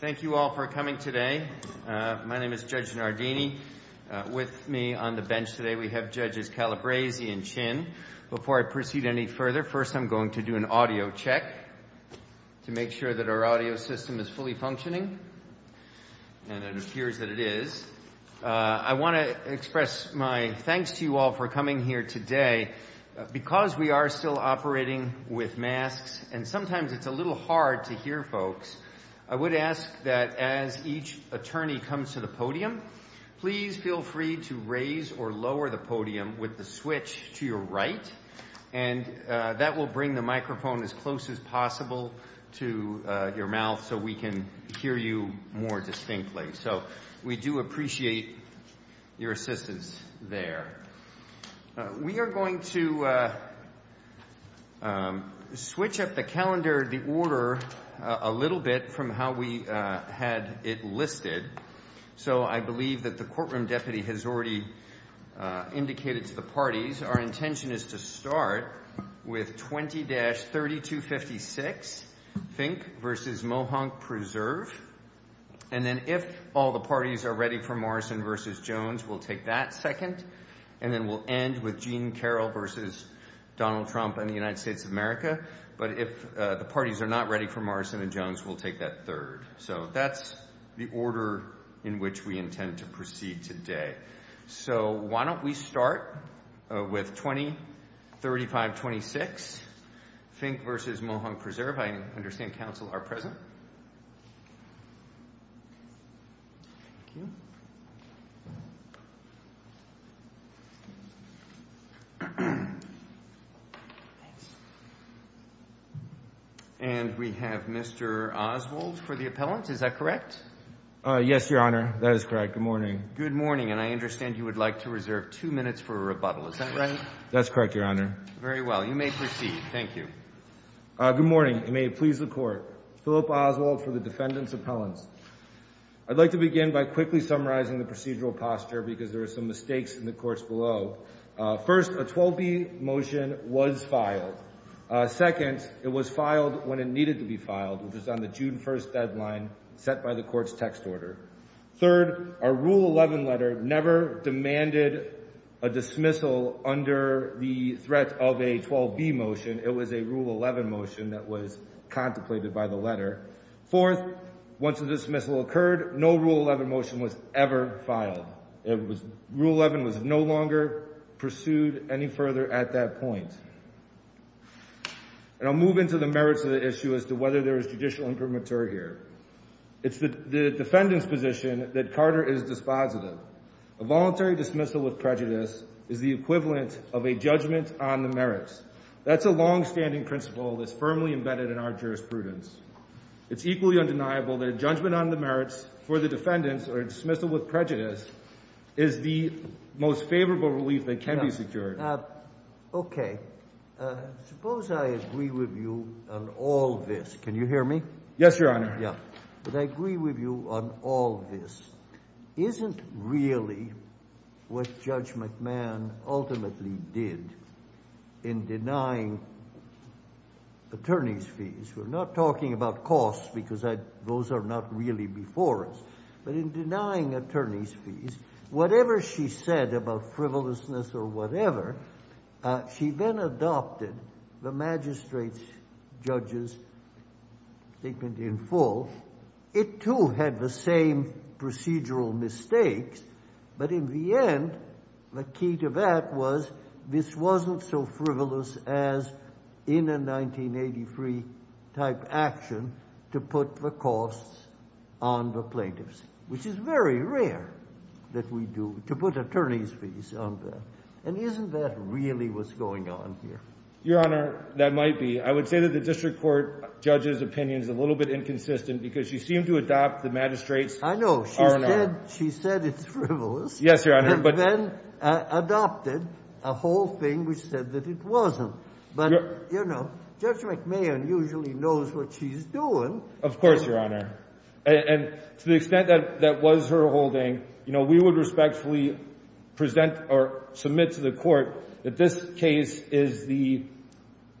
Thank you all for coming today. My name is Judge Nardini. With me on the bench today we have Judges Calabresi and Chin. Before I proceed any further, first I'm going to do an audio check to make sure that our audio system is fully functioning, and it appears that it is. I want to express my thanks to you all for coming here today. Because we are still operating with masks, and sometimes it's a little hard to hear folks, I would ask that as each attorney comes to the podium, please feel free to raise or lower the podium with the switch to your right, and that will bring the microphone as close as possible to your mouth so we can hear you more distinctly. So we do appreciate your assistance there. We are going to switch up the calendar, the order, a little bit from how we had it listed. So I believe that the courtroom deputy has already indicated to the parties our intention is to start with 20-3256, Fink v. Mohonk Preserve. And then if all the parties are ready for Morrison v. Jones, we'll take that second, and then we'll end with Gene Carroll v. Donald Trump and the United States of America. But if the parties are not ready for Morrison and Jones, we'll take that third. So that's the order in which we intend to proceed today. So why don't we start with 20-3526, Fink v. Mohonk Preserve. I understand counsel are present. And we have Mr. Oswald for the appellant. Is that correct? Yes, Your Honor. That is correct. Good morning. Good morning. And I understand you would like to reserve two minutes for a rebuttal. Is that right? That's correct, Your Honor. Very well. You may proceed. Thank you. Good morning. And may it please the Court. Philip Oswald for the defendant's appellants. I'd like to begin by quickly summarizing the procedural posture because there are some mistakes in the courts below. First, a 12b motion was filed. Second, it was filed when it needed to be filed, which is on the June 1st deadline set by the court's text order. Third, our Rule 11 letter never demanded a dismissal under the threat of a 12b motion. It was a Rule 11 motion that was contemplated by the letter. Fourth, once the dismissal occurred, no Rule 11 motion was ever filed. Rule 11 was no longer pursued any further at that point. And I'll move into the merits of the issue as to whether there is judicial imprimatur here. It's the defendant's position that Carter is dispositive. A voluntary dismissal with prejudice is the equivalent of a judgment on the merits. That's a longstanding principle that's firmly embedded in our jurisprudence. It's equally undeniable that a judgment on the merits for the defendants or a dismissal with prejudice is the most favorable relief that can be secured. Okay. Suppose I agree with you on all this. Can you hear me? Yes, Your Honor. Yeah. Suppose I agree with you on all this. Isn't really what Judge McMahon ultimately did in denying attorney's fees, we're not talking about costs because those are not really before us, but in denying attorney's fees, whatever she said about frivolousness or whatever, she then adopted the magistrate's judgment in full. It too had the same procedural mistakes, but in the end, the key to that was this wasn't so frivolous as in a 1983-type action to put the costs on the plaintiffs, which is very rare that we do, to put attorney's fees on that. And isn't that really what's going on here? Your Honor, that might be. I would say that the district court judge's opinion is a little bit inconsistent because she seemed to adopt the magistrate's. I know. She said it's frivolous. Yes, Your Honor. And then adopted a whole thing which said that it wasn't. But Judge McMahon usually knows what she's doing. Of course, Your Honor. And to the extent that that was her holding, we would respectfully present or submit to the court that this case is the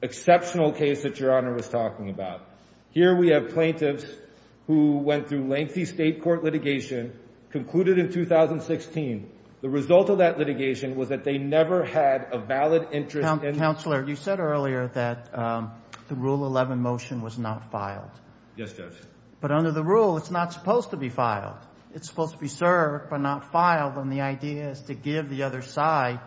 exceptional case that Your Honor was talking about. Here we have plaintiffs who went through lengthy state court litigation, concluded in 2016. The result of that litigation was that they never had a valid interest in— Counselor, you said earlier that the Rule 11 motion was not filed. Yes, Judge. But under the rule, it's not supposed to be filed. It's supposed to be served but not filed. And the idea is to give the other side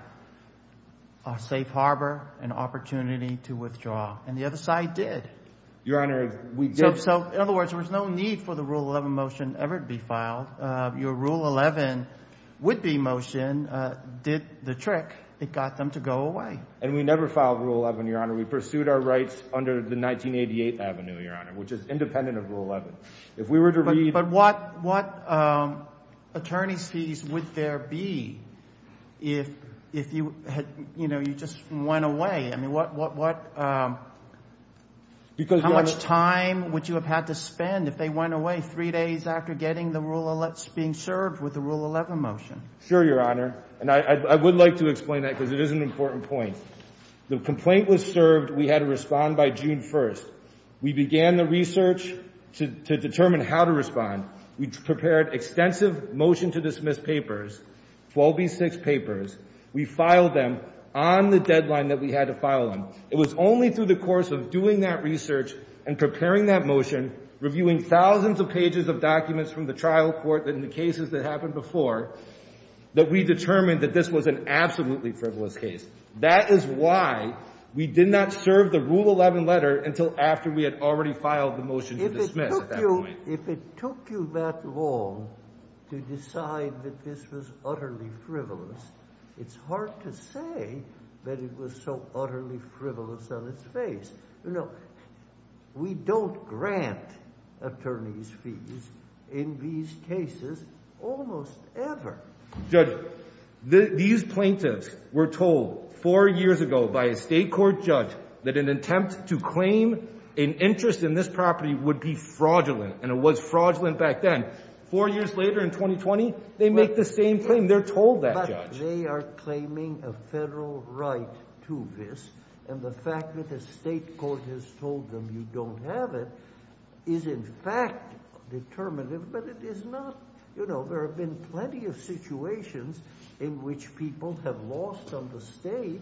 a safe harbor, an opportunity to withdraw. And the other side did. Your Honor, we did. So in other words, there was no need for the Rule 11 motion ever to be filed. Your Rule 11 would-be motion did the trick. It got them to go away. And we never filed Rule 11, Your Honor. We pursued our rights under the 1988 avenue, Your Honor, which is independent of Rule 11. If we were to read— But what attorney's fees would there be if you had—you know, you just went away? I mean, what—how much time would you have had to spend if they went away three days after getting the Rule—being served with the Rule 11 motion? Sure, Your Honor. And I would like to explain that because it is an important point. The complaint was served. We had to respond by June 1st. We began the research to determine how to respond. We prepared extensive motion-to-dismiss papers, 12B6 papers. We filed them on the deadline that we had to file them. It was only through the course of doing that research and preparing that motion, reviewing thousands of pages of documents from the trial court and the cases that happened before, that we determined that this was an absolutely frivolous case. That is why we did not serve the Rule 11 letter until after we had already filed the motion to dismiss at that point. If it took you that long to decide that this was utterly frivolous, it's hard to say that it was so utterly frivolous on its face. You know, we don't grant attorney's fees in these cases almost ever. Judge, these plaintiffs were told four years ago by a state court judge that an attempt to claim an interest in this property would be fraudulent. And it was fraudulent back then. Four years later in 2020, they make the same claim. They're told that, Judge. But they are claiming a federal right to this. And the fact that the state court has told them you don't have it is, in fact, determinative. But it is not. You know, there have been plenty of situations in which people have lost on the state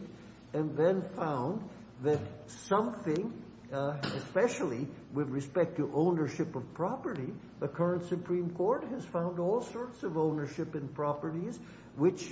and then found that something, especially with respect to ownership of property, the current Supreme Court has found all sorts of ownership in properties which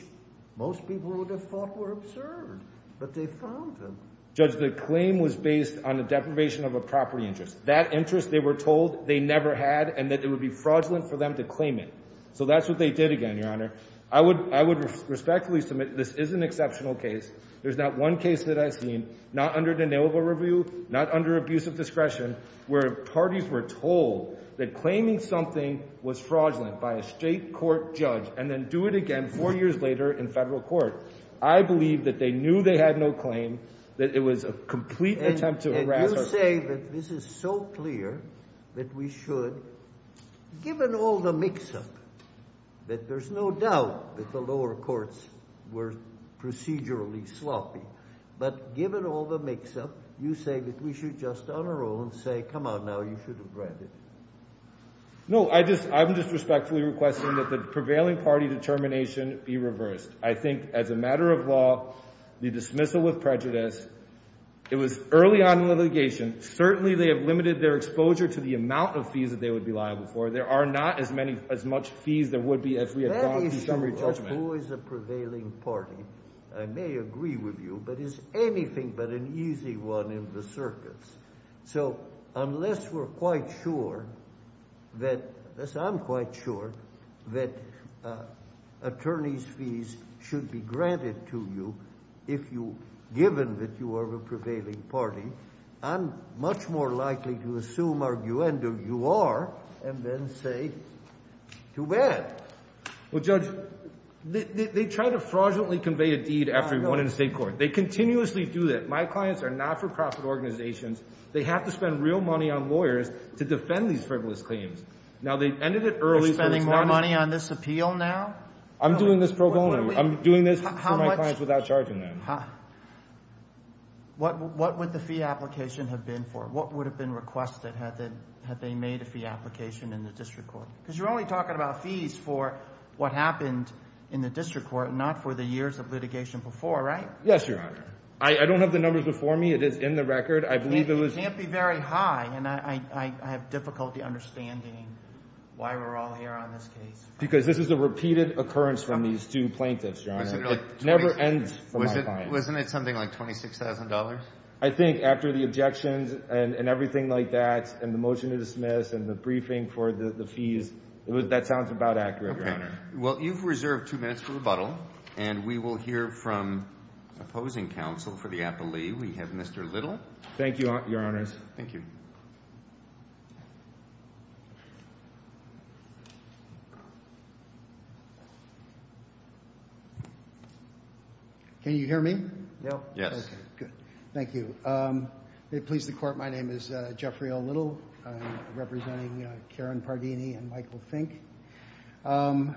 most people would have thought were absurd. But they found them. Judge, the claim was based on the deprivation of a property interest. That interest, they were told they never had and that it would be fraudulent for them to claim it. So that's what they did again, Your Honor. I would respectfully submit this is an exceptional case. There's not one case that I've seen, not under denial of a review, not under abuse of discretion, where parties were told that claiming something was fraudulent by a state court judge and then do it again four years later in federal court. I believe that they knew they had no claim, that it was a complete attempt to harass our people. You say that this is so clear that we should, given all the mix-up, that there's no doubt that the lower courts were procedurally sloppy, but given all the mix-up, you say that we should just on our own say, come on now, you should have read it. No, I'm just respectfully requesting that the prevailing party determination be reversed. I think as a matter of law, the dismissal with prejudice, it was early on in litigation. Certainly, they have limited their exposure to the amount of fees that they would be liable for. There are not as many as much fees there would be as we had gone through summary judgment. That is always a prevailing party. I may agree with you, but it's anything but an easy one in the circuits. So unless we're quite sure that, unless I'm quite sure that attorney's fees should be granted to you given that you are a prevailing party, I'm much more likely to assume arguendo you are, and then say, too bad. Well, Judge, they try to fraudulently convey a deed after you've won in a state court. They continuously do that. My clients are not-for-profit organizations. They have to spend real money on lawyers to defend these frivolous claims. Now, they ended it early, so it's not as bad. You're spending more money on this appeal now? I'm doing this pro bono. I'm doing this for my clients without charging them. What would the fee application have been for? What would have been requested had they made a fee application in the district court? Because you're only talking about fees for what happened in the district court, not for the years of litigation before, right? Yes, Your Honor. I don't have the numbers before me. It is in the record. I believe it was- It can't be very high, and I have difficulty understanding why we're all here on this case. Because this is a repeated occurrence from these two plaintiffs, Your Honor. Never ends for my clients. Wasn't it something like $26,000? I think after the objections and everything like that, and the motion to dismiss, and the briefing for the fees, that sounds about accurate, Your Honor. Well, you've reserved two minutes for rebuttal, and we will hear from opposing counsel for the appellee. We have Mr. Little. Thank you, Your Honors. Thank you. Can you hear me? Yes. Okay, good. Thank you. May it please the Court, my name is Jeffrey L. Little. I'm representing Karen Pardini and Michael Fink. When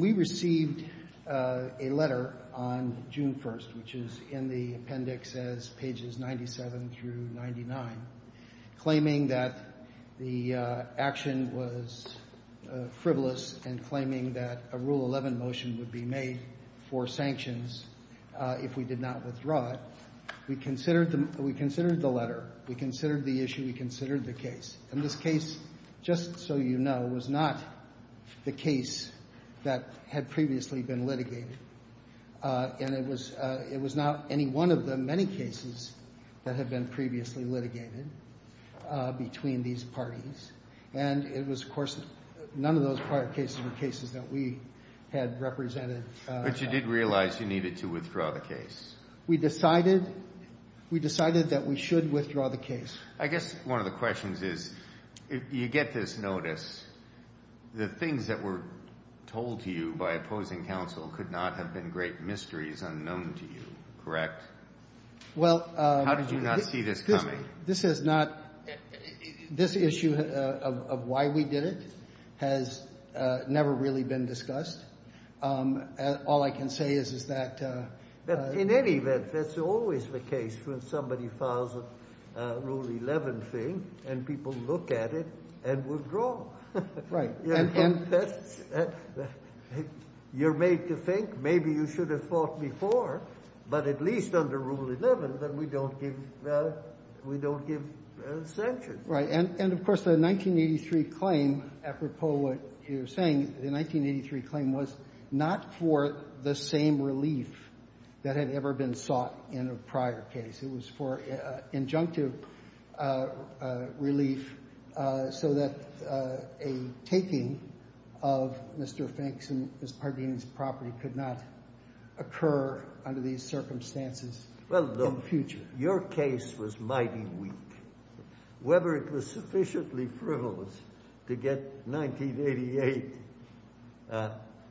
we received a letter on June 1st, which is in the appendix as pages 97 through 99, claiming that the action was frivolous, and claiming that a Rule 11 motion would be made for sanctions if we did not withdraw it, we considered the letter, we considered the issue, we considered the case. And this case, just so you know, was not the case that had previously been litigated. And it was not any one of the many cases that had been previously litigated between these parties. And it was, of course, none of those prior cases were cases that we had represented. But you did realize you needed to withdraw the case? We decided that we should withdraw the case. I guess one of the questions is, you get this notice, the things that were told to you by opposing counsel could not have been great mysteries unknown to you, correct? How did you not see this coming? This issue of why we did it has never really been discussed. All I can say is that... In any event, that's always the case when somebody files a Rule 11 thing and people look at it and withdraw. Right. You're made to think maybe you should have fought before, but at least under Rule 11 that we don't give sanctions. Right. And, of course, the 1983 claim, apropos what you're saying, the 1983 claim was not for the same relief that had ever been sought in a prior case. It was for injunctive relief so that a taking of Mr. Fink's and Ms. Pardeen's property could not occur under these circumstances in the future. Well, look, your case was mighty weak. Whether it was sufficiently frivolous to get 1988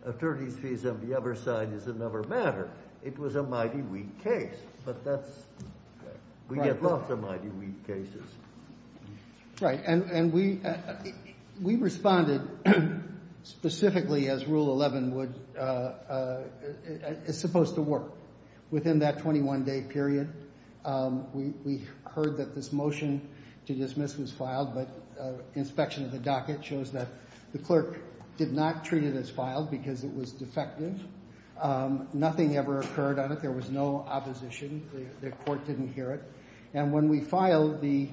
attorney's fees on the other side is another matter. It was a mighty weak case. But we get lots of mighty weak cases. Right. And we responded specifically as Rule 11 is supposed to work. Within that 21-day period, we heard that this motion to dismiss was filed, but inspection of the docket shows that the clerk did not treat it as filed because it was defective. Nothing ever occurred on it. In fact, there was no opposition. The court didn't hear it. And when we filed the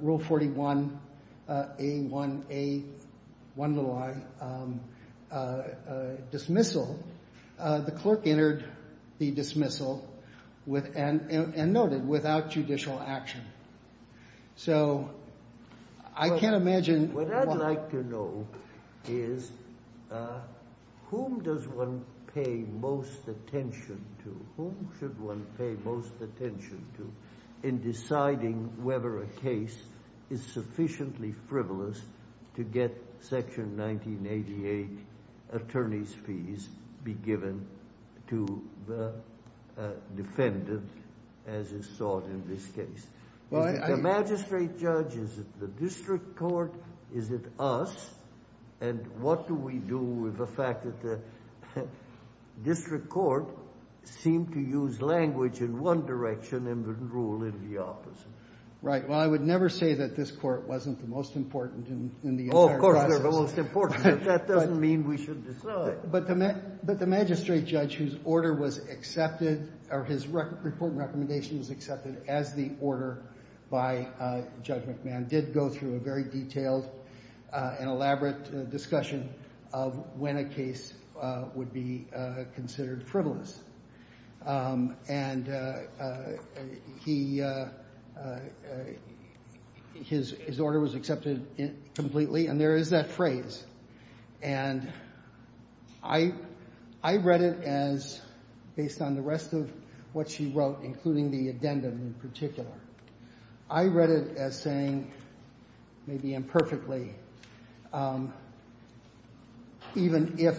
Rule 41A1A1i dismissal, the clerk entered the dismissal and noted, without judicial action. So I can't imagine what... to whom should one pay most attention to in deciding whether a case is sufficiently frivolous to get Section 1988 attorney's fees be given to the defendant as is sought in this case. Is it the magistrate judge? Is it the district court? Is it us? And what do we do with the fact that the district court seemed to use language in one direction and rule in the opposite? Right. Well, I would never say that this court wasn't the most important in the entire process. Oh, of course, they're the most important. But that doesn't mean we should decide. But the magistrate judge whose order was accepted or his report and recommendation was accepted as the order by Judge McMahon did go through a very detailed and elaborate discussion of when a case would be considered frivolous. His order was accepted completely and there is that phrase. And I read it as, based on the rest of what she wrote, including the addendum in particular, I read it as saying, maybe imperfectly, even if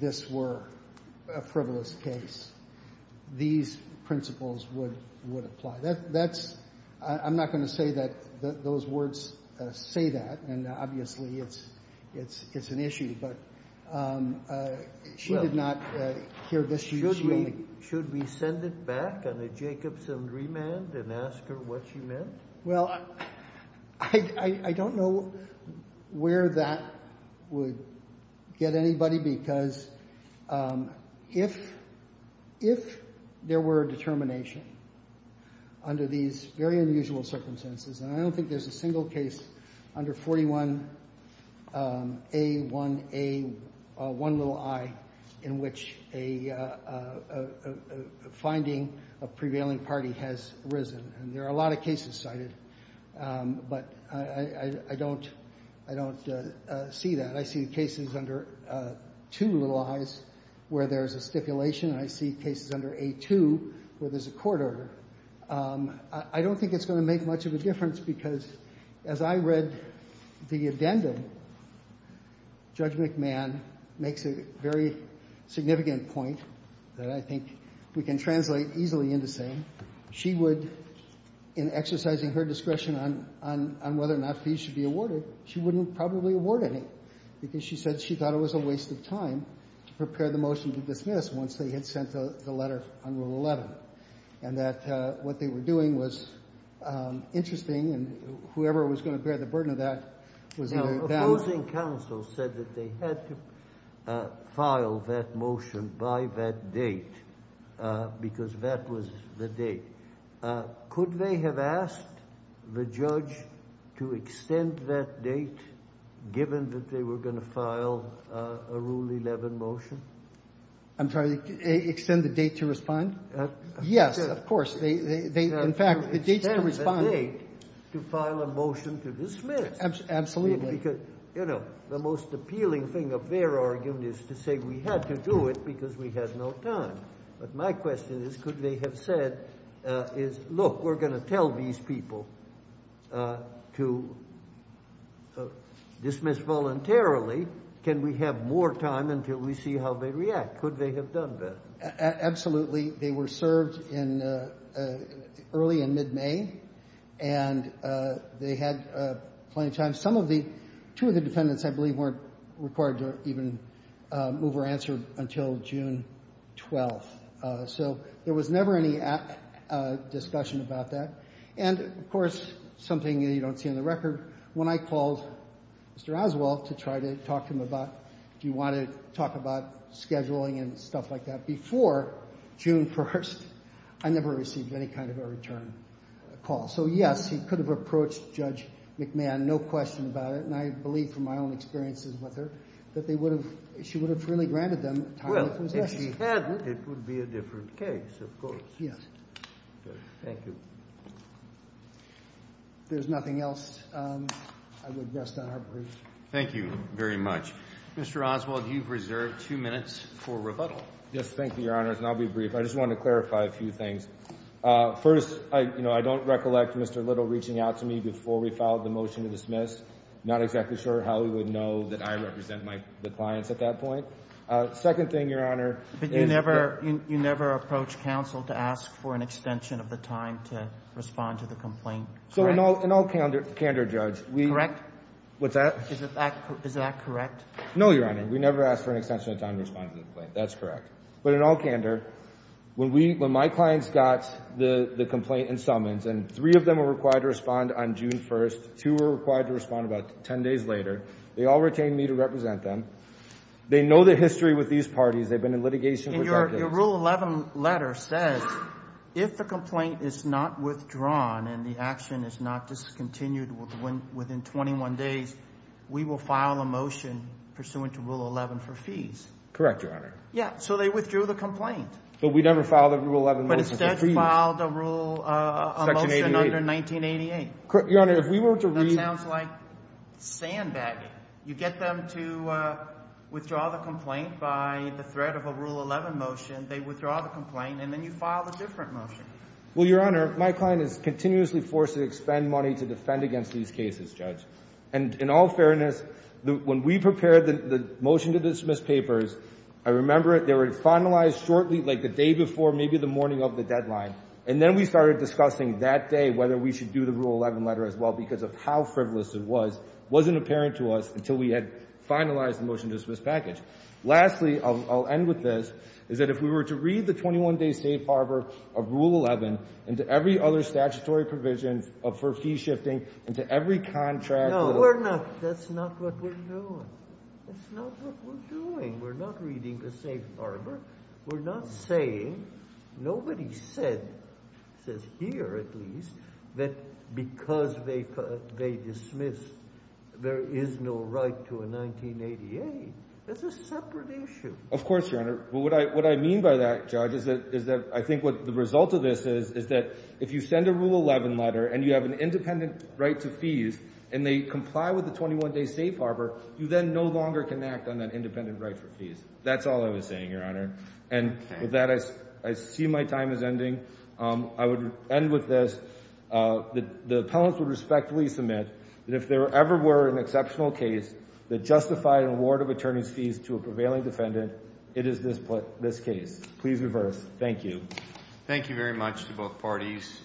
this were a frivolous case, these principles would apply. I'm not going to say that those words say that and obviously it's an issue, but she did not hear this. Should we send it back on a Jacobson remand and ask her what she meant? Well, I don't know where that would get anybody because if there were a determination under these very unusual circumstances, and I don't think there's a single case under 41A1A1i in which a finding of prevailing party has arisen and there are a lot of cases cited, but I don't see that. I see cases under two little i's where there's a stipulation and I see cases under A2 where there's a court order. I don't think it's going to make much of a difference because as I read the addendum, Judge McMahon makes a very significant point that I think we can translate easily into saying she would, in exercising her discretion on whether or not fees should be awarded, she wouldn't probably award any because she said she thought it was a waste of time to prepare the motion to dismiss once they had sent the letter on Rule 11 and that what they were doing was interesting and whoever was going to bear the burden of that The opposing counsel said that they had to file that motion by that date because that was the date. Could they have asked the judge to extend that date given that they were going to file a Rule 11 motion? I'm sorry, extend the date to respond? Yes, of course. In fact, the date to respond to file a motion to dismiss. Absolutely. You know, the most appealing thing of their argument is to say we had to do it because we had no time. But my question is, could they have said look, we're going to tell these people to dismiss voluntarily can we have more time until we see how they react? Could they have done that? Absolutely. They were served early in mid-May and they had plenty of time. Two of the defendants, I believe weren't required to even move or answer until June 12. So there was never any discussion about that. And, of course, something you don't see in the record when I called Mr. Oswald to try to talk to him about scheduling and stuff like that before June 1st I never received any kind of a return call. So, yes, he could have approached Judge McMahon no question about it, and I believe from my own experiences with her that she would have freely granted them time to possess him. Well, if she hadn't, it would be a different case, of course. Thank you. If there's nothing else I would rest on our brief. Thank you very much. Mr. Oswald, you've reserved two minutes for rebuttal. Yes, thank you, Your Honor, and I'll be brief. I just want to clarify a few things. First, I don't recollect Mr. Little reaching out to me before we filed the motion to dismiss. Not exactly sure how he would know that I represent my clients at that point. Second thing, Your Honor... But you never approached counsel to ask for an extension of the time to respond to the complaint, correct? In all candor, Judge. Is that correct? No, Your Honor. We never asked for an extension of time to respond to the complaint. That's correct. But in all candor, when my clients got the complaint and summons and three of them were required to respond on June 1st, two were required to respond about 10 days later, they all retained me to represent them. They know the history with these parties. They've been in litigation... Your Rule 11 letter says if the complaint is not withdrawn and the action is not discontinued within 21 days, we will file a motion pursuant to Rule 11 for fees. Correct, Your Honor. Yeah, so they withdrew the complaint. But we never filed a Rule 11 motion for fees. But instead filed a Rule 11 motion under 1988. Your Honor, if we were to... That sounds like sandbagging. You get them to withdraw the complaint by the threat of a Rule 11 motion, they withdraw the complaint, and then you file a different motion. Well, Your Honor, my client is continuously forced to expend money to defend against these cases, Judge. And in all fairness, when we prepared the motion to dismiss papers, I remember it, they were finalized shortly, like the day before, maybe the morning of the deadline. And then we started discussing that day whether we should do the Rule 11 letter as well because of how frivolous it was. It wasn't apparent to us until we had finalized the motion to dismiss package. Lastly, I'll end with this, is that if we were to read the 21-day safe harbor of Rule 11 and every other statutory provisions for fee shifting into every contract... No, we're not. That's not what we're doing. That's not what we're doing. We're not reading the safe harbor. We're not saying... Nobody said, says here at least, that because they dismissed, there is no right to a 1988. That's a separate issue. Of course, Your Honor. What I mean by that, Judge, is that I think the result of this is that if you send a Rule 11 letter and you have an independent right to fees and they comply with the 21-day safe harbor, you then no longer can act on that independent right for fees. That's all I was saying, Your Honor. And with that, I see my time is ending. I would end with this. The appellants would respectfully submit that if there ever were an exceptional case that justified an award of attorney's fees to a prevailing defendant, it is this case. Please reverse. Thank you. Thank you very much to both parties.